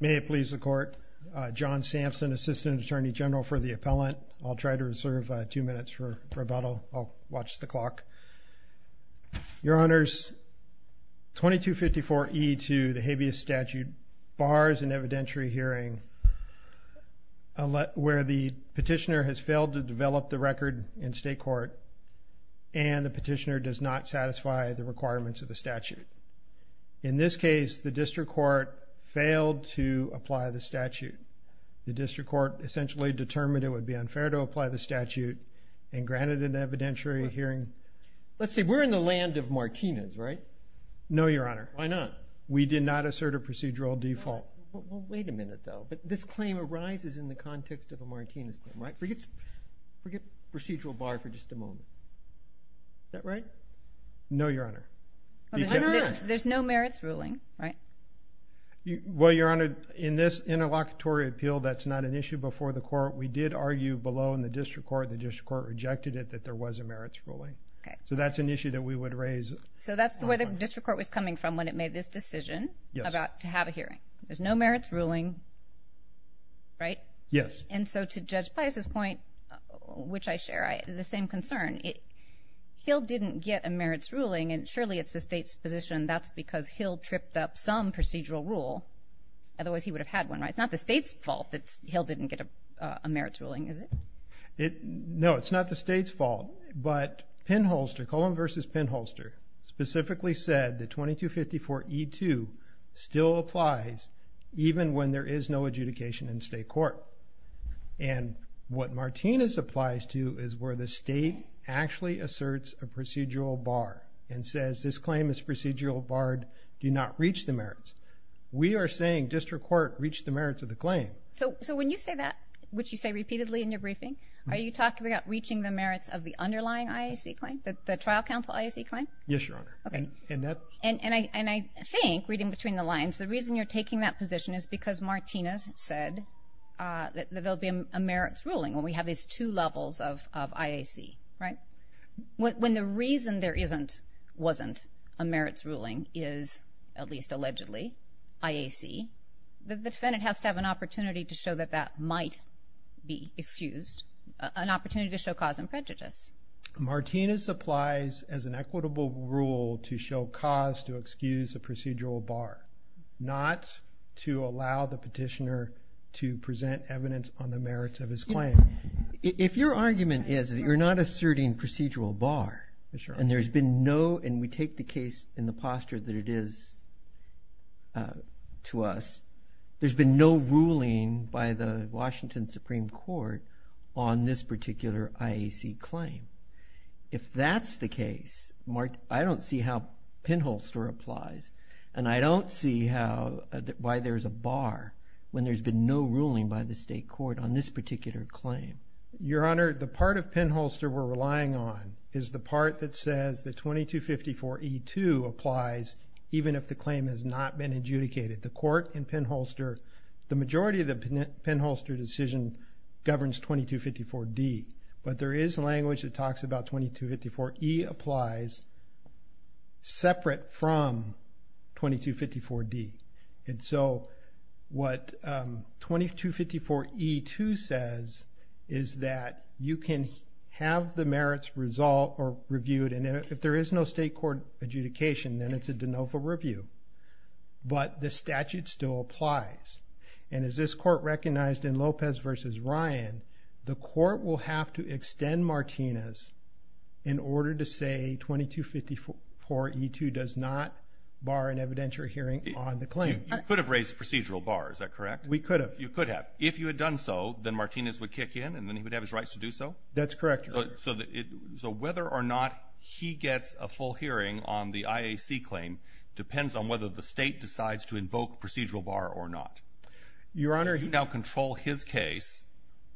May it please the Court, John Sampson, Assistant Attorney General for the Appellant. I'll try to reserve two minutes for rebuttal. I'll watch the clock. Your Honors, 2254E to the habeas statute bars an evidentiary hearing where the petitioner has failed to develop the record in state court and the petitioner does not satisfy the requirements of the statute. In this case, the district court failed to apply the statute. The district court essentially determined it would be unfair to apply the statute and granted an evidentiary hearing. Let's say we're in the land of Martinez, right? No, Your Honor. Why not? We did not assert a procedural default. Well, wait a minute, though. This claim arises in the context of a Martinez claim, right? Forget procedural bar for just a moment. Is that right? No, Your Honor. There's no merits ruling, right? Well, Your Honor, in this interlocutory appeal, that's not an issue before the court. We did argue below in the district court. The district court rejected it that there was a merits ruling. So that's an issue that we would raise. So that's where the district court was coming from when it made this decision about to have a hearing. There's no merits ruling, right? Yes. And so to Judge Pius' point, which I share, the same concern. Hill didn't get a merits ruling, and surely it's the state's position that's because Hill tripped up some procedural rule. Otherwise, he would have had one, right? It's not the state's fault that Hill didn't get a merits ruling, is it? No, it's not the state's fault. But Pinholster, Coleman v. Pinholster, specifically said that 2254E2 still applies even when there is no adjudication in state court. And what Martinez applies to is where the state actually asserts a procedural bar and says this claim is procedural barred, do not reach the merits. We are saying district court reached the merits of the claim. So when you say that, which you say repeatedly in your briefing, are you talking about reaching the merits of the underlying IAC claim, the trial counsel IAC claim? Yes, Your Honor. And I think, reading between the lines, the reason you're taking that position is because Martinez said that there will be a merits ruling when we have these two levels of IAC, right? When the reason there wasn't a merits ruling is, at least allegedly, IAC, the defendant has to have an opportunity to show that that might be excused, an opportunity to show cause and prejudice. Martinez applies as an equitable rule to show cause to excuse a procedural bar, not to allow the petitioner to present evidence on the merits of his claim. If your argument is that you're not asserting procedural bar and there's been no, and we take the case in the posture that it is to us, there's been no ruling by the Washington Supreme Court on this particular IAC claim. If that's the case, I don't see how Penholster applies and I don't see how, why there's a bar when there's been no ruling by the state court on this particular claim. Your Honor, the part of Penholster we're relying on is the part that says that 2254E2 applies even if the claim has not been adjudicated. The court in Penholster, the majority of the Penholster decision governs 2254D, but there is language that talks about 2254E applies separate from 2254D. And so what 2254E2 says is that you can have the merits resolved or reviewed and if there is no state court adjudication, then it's a de novo review. But the statute still applies. And as this court recognized in Lopez versus Ryan, the court will have to extend Martinez in order to say 2254E2 does not bar an evidentiary hearing on the claim. You could have raised procedural bar, is that correct? We could have. You could have. If you had done so, then Martinez would kick in and then he would have his rights to do so? That's correct, Your Honor. So whether or not he gets a full hearing on the IAC claim depends on whether the state decides to invoke procedural bar or not. Your Honor. He can now control his case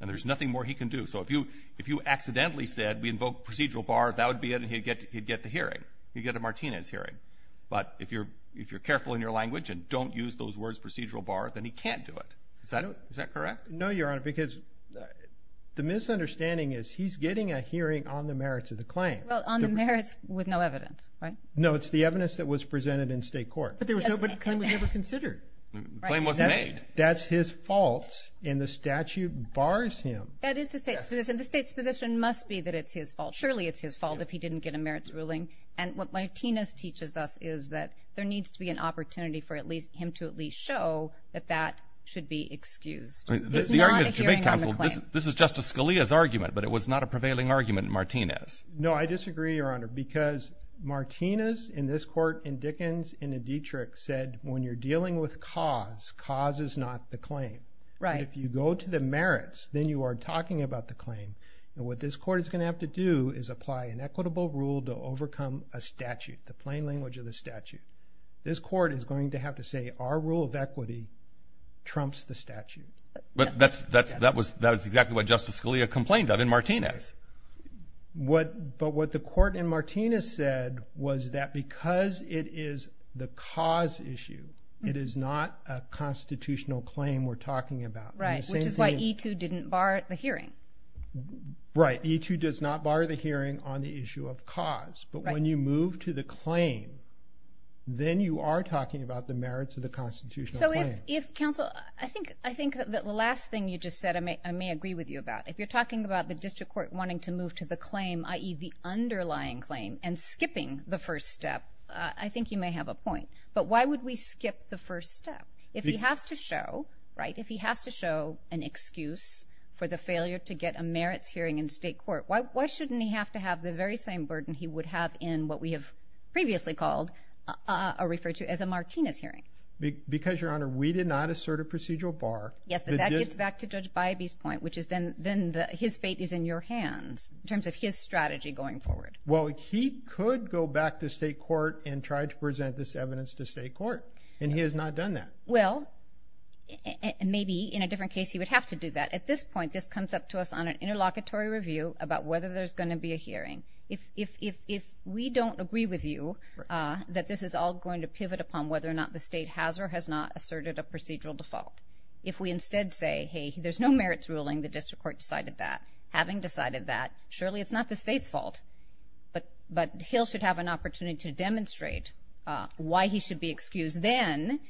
and there's nothing more he can do. So if you accidentally said we invoke procedural bar, that would be it and he'd get the hearing. He'd get a Martinez hearing. But if you're careful in your language and don't use those words procedural bar, then he can't do it. Is that correct? No, Your Honor, because the misunderstanding is he's getting a hearing on the merits of the claim. Well, on the merits with no evidence, right? No, it's the evidence that was presented in state court. But the claim was never considered. The claim wasn't made. That's his fault and the statute bars him. That is the state's position. The state's position must be that it's his fault. Surely it's his fault if he didn't get a merits ruling. And what Martinez teaches us is that there needs to be an opportunity for him to at least show that that should be excused. It's not a hearing on the claim. This is Justice Scalia's argument, but it was not a prevailing argument in Martinez. No, I disagree, Your Honor, because Martinez in this court and Dickens and Dietrich said when you're dealing with cause, cause is not the claim. Right. If you go to the merits, then you are talking about the claim. And what this court is going to have to do is apply an equitable rule to overcome a statute, the plain language of the statute. This court is going to have to say our rule of equity trumps the statute. But that's exactly what Justice Scalia complained of in Martinez. But what the court in Martinez said was that because it is the cause issue, it is not a constitutional claim we're talking about. Right, which is why E2 didn't bar the hearing. Right. E2 does not bar the hearing on the issue of cause. But when you move to the claim, then you are talking about the merits of the constitutional claim. So if counsel, I think that the last thing you just said I may agree with you about. If you're talking about the district court wanting to move to the claim, i.e., the underlying claim and skipping the first step, I think you may have a point. But why would we skip the first step? If he has to show, right, if he has to show an excuse for the failure to get a merits hearing in state court, why shouldn't he have to have the very same burden he would have in what we have previously called or referred to as a Martinez hearing? Because, Your Honor, we did not assert a procedural bar. Yes, but that gets back to Judge Bybee's point, which is then his fate is in your hands in terms of his strategy going forward. Well, he could go back to state court and try to present this evidence to state court, and he has not done that. Well, maybe in a different case he would have to do that. But at this point, this comes up to us on an interlocutory review about whether there's going to be a hearing. If we don't agree with you that this is all going to pivot upon whether or not the state has or has not asserted a procedural default, if we instead say, hey, there's no merits ruling, the district court decided that, having decided that, surely it's not the state's fault, but Hill should have an opportunity to demonstrate why he should be excused, then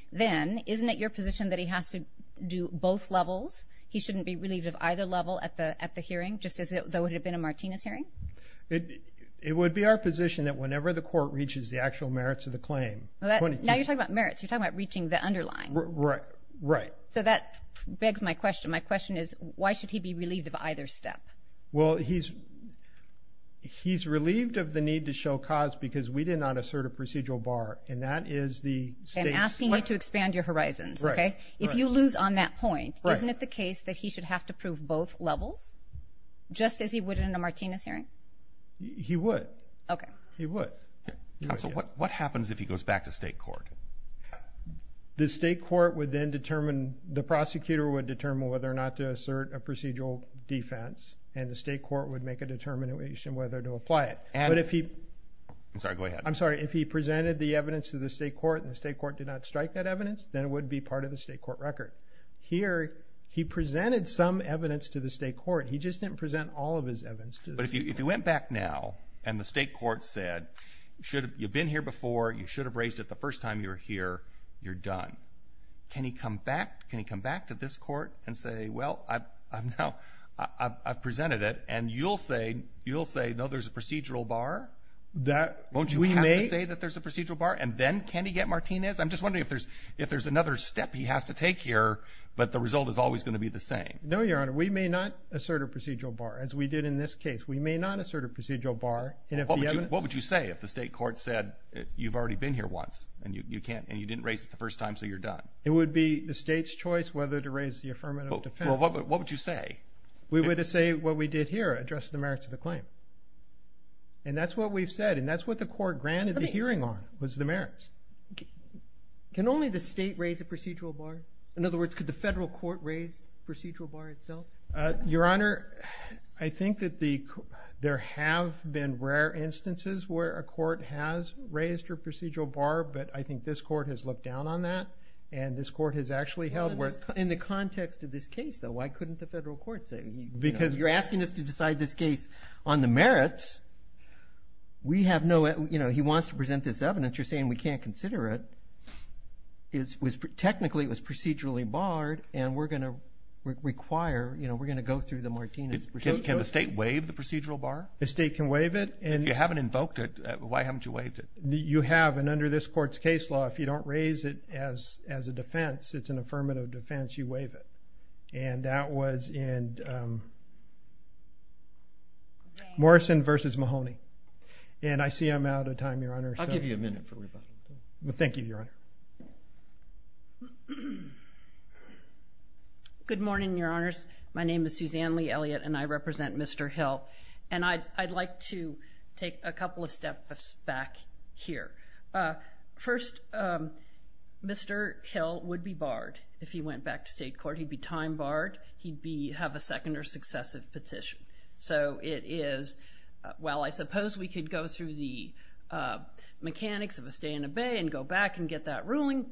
isn't it your position that he has to do both levels? He shouldn't be relieved of either level at the hearing, just as though it had been a Martinez hearing? It would be our position that whenever the court reaches the actual merits of the claim. Now you're talking about merits. You're talking about reaching the underlying. Right. So that begs my question. My question is why should he be relieved of either step? Well, he's relieved of the need to show cause because we did not assert a procedural bar, and that is the state's fault. I'm asking you to expand your horizons. Right. If you lose on that point, isn't it the case that he should have to prove both levels, just as he would in a Martinez hearing? He would. Okay. He would. Counsel, what happens if he goes back to state court? The state court would then determine, the prosecutor would determine whether or not to assert a procedural defense, I'm sorry. Go ahead. If he presented evidence to the state court and the state court did not strike that evidence, then it would be part of the state court record. Here, he presented some evidence to the state court. He just didn't present all of his evidence to the state court. But if he went back now and the state court said, you've been here before, you should have raised it the first time you were here, you're done, can he come back? Can he come back to this court and say, well, I've presented it, and you'll say, no, there's a procedural bar? Won't you have to say that there's a procedural bar, and then can he get Martinez? I'm just wondering if there's another step he has to take here, but the result is always going to be the same. No, Your Honor. We may not assert a procedural bar, as we did in this case. We may not assert a procedural bar. What would you say if the state court said, you've already been here once, and you didn't raise it the first time, so you're done? It would be the state's choice whether to raise the affirmative defense. Well, what would you say? We would say what we did here, address the merits of the claim. And that's what we've said, and that's what the court granted the hearing on, was the merits. Can only the state raise a procedural bar? In other words, could the federal court raise the procedural bar itself? Your Honor, I think that there have been rare instances where a court has raised a procedural bar, but I think this court has looked down on that, and this court has actually held where it's – In the context of this case, though, why couldn't the federal court say? You're asking us to decide this case on the merits. We have no – he wants to present this evidence. You're saying we can't consider it. Technically, it was procedurally barred, and we're going to require – we're going to go through the Martinez Procedure Act. Can the state waive the procedural bar? The state can waive it. If you haven't invoked it, why haven't you waived it? You have, and under this court's case law, if you don't raise it as a defense, it's an affirmative defense, you waive it. And that was in Morrison v. Mahoney, and I see I'm out of time, Your Honor. I'll give you a minute for rebuttal. Thank you, Your Honor. Good morning, Your Honors. My name is Suzanne Lee Elliott, and I represent Mr. Hill, and I'd like to take a couple of steps back here. First, Mr. Hill would be barred if he went back to state court. He'd be time barred. He'd have a second or successive petition. So it is, well, I suppose we could go through the mechanics of a stay-in-the-bay and go back and get that ruling.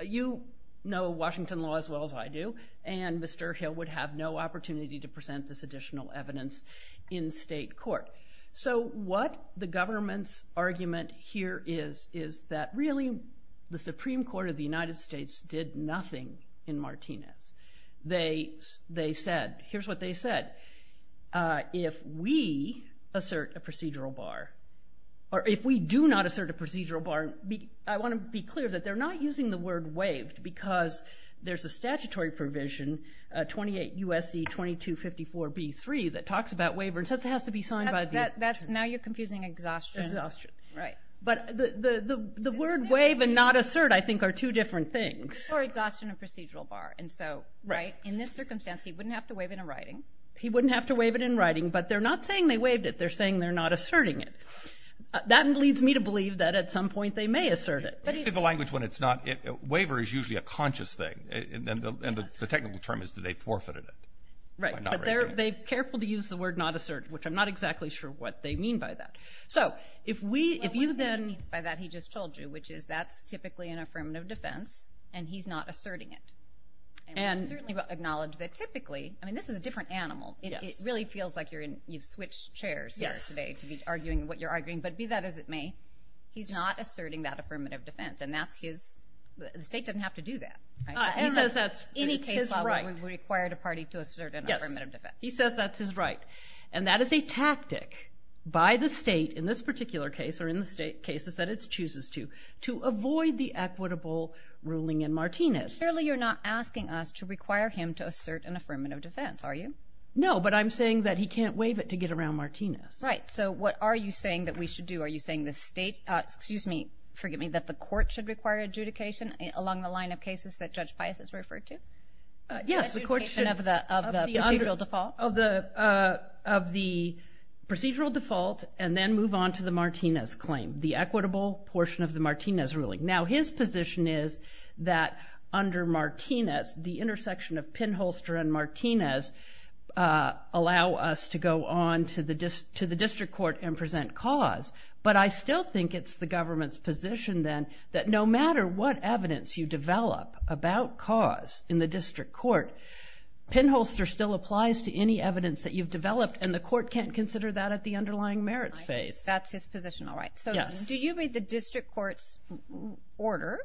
You know Washington law as well as I do, and Mr. Hill would have no opportunity to present this additional evidence in state court. So what the government's argument here is, is that really the Supreme Court of the United States did nothing in Martinez. They said, here's what they said, if we assert a procedural bar, or if we do not assert a procedural bar, I want to be clear that they're not using the word waived because there's a statutory provision, 28 U.S.C. 2254b-3, that talks about waiver and says it has to be signed by the attorney. Now you're confusing exhaustion. Exhaustion. Right. But the word waive and not assert, I think, are two different things. Or exhaustion and procedural bar. And so, right, in this circumstance he wouldn't have to waive it in writing. He wouldn't have to waive it in writing, but they're not saying they waived it. They're saying they're not asserting it. That leads me to believe that at some point they may assert it. Usually the language when it's not waiver is usually a conscious thing, and the technical term is that they forfeited it. Right. But they're careful to use the word not assert, which I'm not exactly sure what they mean by that. So if we, if you then. What he means by that, he just told you, which is that's typically an affirmative defense, and he's not asserting it. And we certainly acknowledge that typically, I mean, this is a different animal. It really feels like you've switched chairs here today to be arguing what you're arguing. But be that as it may, he's not asserting that affirmative defense, and that's his, the state doesn't have to do that. He says that's his right. Any case where we've required a party to assert an affirmative defense. Yes, he says that's his right. And that is a tactic by the state in this particular case, or in the cases that it chooses to, to avoid the equitable ruling in Martinez. Clearly you're not asking us to require him to assert an affirmative defense, are you? No, but I'm saying that he can't waive it to get around Martinez. Right. So what are you saying that we should do? Are you saying the state, excuse me, forgive me, that the court should require adjudication along the line of cases that Judge Pius has referred to? Yes, the court should. And of the procedural default? Of the procedural default, and then move on to the Martinez claim, the equitable portion of the Martinez ruling. Now his position is that under Martinez, the intersection of Pinholster and Martinez allow us to go on to the district court and present cause. But I still think it's the government's position then that no matter what evidence you develop about cause in the district court, Pinholster still applies to any evidence that you've developed, and the court can't consider that at the underlying merits phase. That's his position, all right. Yes. Do you read the district court's order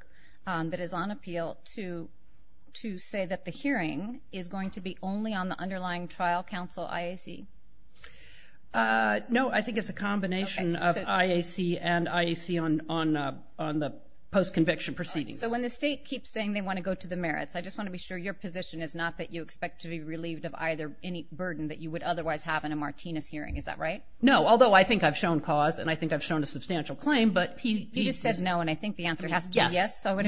that is on appeal to say that the hearing is going to be only on the underlying trial counsel IAC? No, I think it's a combination of IAC and IAC on the post-conviction proceedings. So when the state keeps saying they want to go to the merits, I just want to be sure your position is not that you expect to be relieved of any burden that you would otherwise have in a Martinez hearing. Is that right? No, although I think I've shown cause and I think I've shown a substantial claim. You just said no, and I think the answer has to be yes. So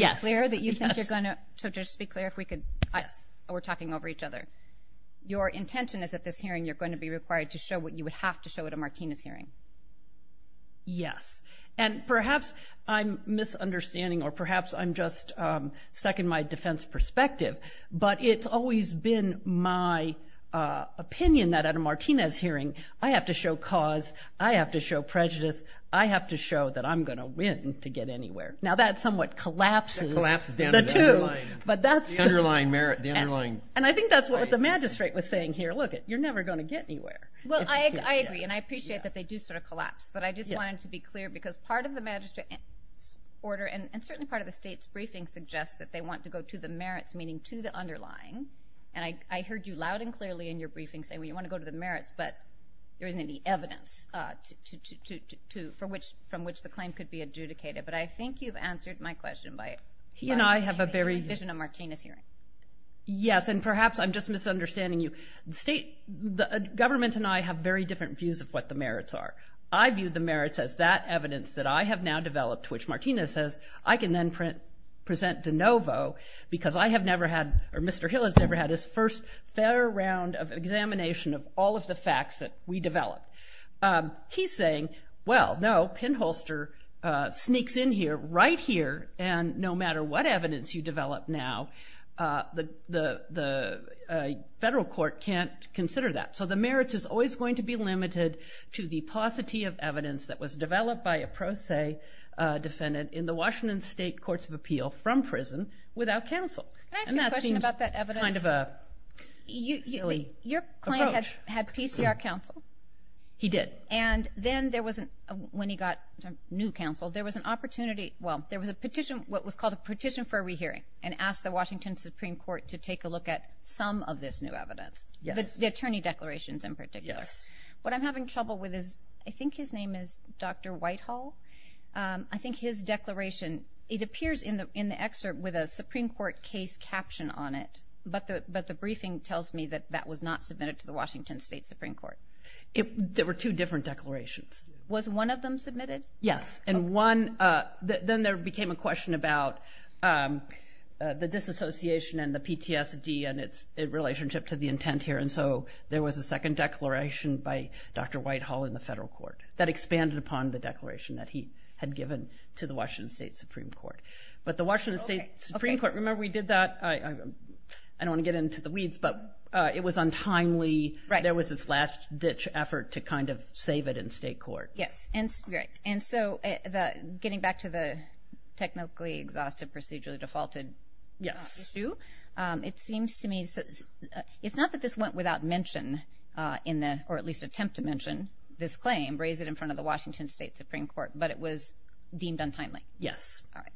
just to be clear, we're talking over each other. Your intention is at this hearing you're going to be required to show what you would have to show at a Martinez hearing. Yes. And perhaps I'm misunderstanding or perhaps I'm just stuck in my defense perspective, but it's always been my opinion that at a Martinez hearing I have to show cause, I have to show prejudice, I have to show that I'm going to win to get anywhere. Now, that somewhat collapses the two. The underlying merit. And I think that's what the magistrate was saying here. Look, you're never going to get anywhere. Well, I agree, and I appreciate that they do sort of collapse, but I just wanted to be clear because part of the magistrate's order and certainly part of the state's briefing suggests that they want to go to the merits, meaning to the underlying. And I heard you loud and clearly in your briefing say, well, you want to go to the merits, but there isn't any evidence from which the claim could be adjudicated. But I think you've answered my question by having a vision of a Martinez hearing. Yes, and perhaps I'm just misunderstanding you. The government and I have very different views of what the merits are. I view the merits as that evidence that I have now developed, which Martinez says I can then present de novo because I have never had or Mr. Hill has never had his first fair round of examination of all of the facts that we developed. He's saying, well, no, pinholster sneaks in here, right here, and no matter what evidence you develop now, the federal court can't consider that. So the merits is always going to be limited to the paucity of evidence that was developed by a pro se defendant in the Washington State Courts of Appeal from prison without counsel. Can I ask you a question about that evidence? Kind of a silly approach. Your client had PCR counsel. He did. And then when he got new counsel, there was an opportunity, well, there was a petition, what was called a petition for a rehearing, and asked the Washington Supreme Court to take a look at some of this new evidence. Yes. The attorney declarations in particular. Yes. What I'm having trouble with is I think his name is Dr. Whitehall. I think his declaration, it appears in the excerpt with a Supreme Court case caption on it, but the briefing tells me that that was not submitted to the Washington State Supreme Court. There were two different declarations. Was one of them submitted? Yes. And one, then there became a question about the disassociation and the PTSD and its relationship to the intent here. And so there was a second declaration by Dr. Whitehall in the federal court that expanded upon the declaration that he had given to the Washington State Supreme Court. But the Washington State Supreme Court, remember we did that? I don't want to get into the weeds, but it was untimely. There was this last ditch effort to kind of save it in state court. Yes. And so getting back to the technically exhaustive procedurally defaulted issue, it seems to me it's not that this went without mention in the or at least attempt to mention this claim, raise it in front of the Washington State Supreme Court, but it was deemed untimely. Yes. All right.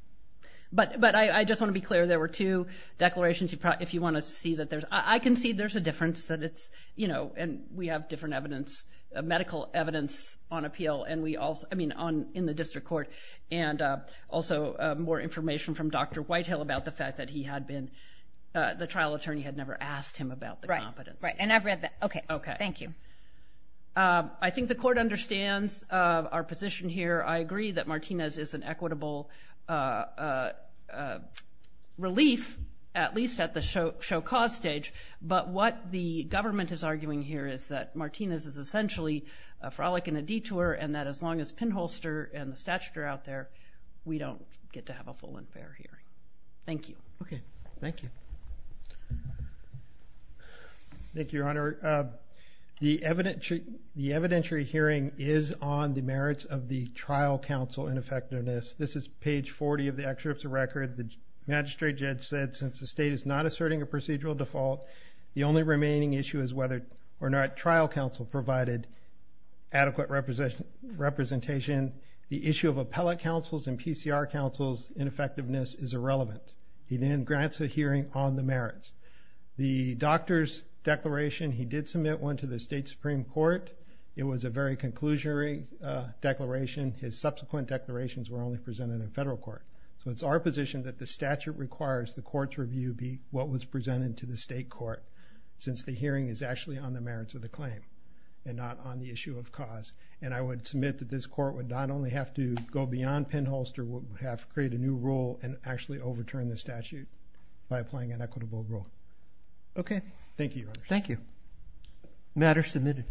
But I just want to be clear, there were two declarations. If you want to see that there's, I can see there's a difference that it's, you know, and we have different evidence, medical evidence on appeal, and we also, I mean, in the district court, and also more information from Dr. Whitehall about the fact that he had been, the trial attorney had never asked him about the competence. Right, right, and I've read that. Okay. Okay. Thank you. I think the court understands our position here. I agree that Martinez is an equitable relief, at least at the show cause stage, but what the government is arguing here is that Martinez is essentially a frolic in a detour and that as long as pinholster and the statute are out there, we don't get to have a full and fair hearing. Thank you. Okay. Thank you. Thank you, Your Honor. The evidentiary hearing is on the merits of the trial counsel ineffectiveness. This is page 40 of the excerpt of the record. The magistrate judge said since the state is not asserting a procedural default, the only remaining issue is whether or not trial counsel provided adequate representation. The issue of appellate counsel's and PCR counsel's ineffectiveness is irrelevant. He then grants a hearing on the merits. The doctor's declaration, he did submit one to the state supreme court. It was a very conclusionary declaration. His subsequent declarations were only presented in federal court. So it's our position that the statute requires the court's review be what was presented to the state court since the hearing is actually on the merits of the claim and not on the issue of cause, and I would submit that this court would not only have to go beyond pinholster, would have to create a new rule and actually overturn the statute by applying an equitable rule. Okay. Thank you, Your Honor. Thank you. Matter submitted.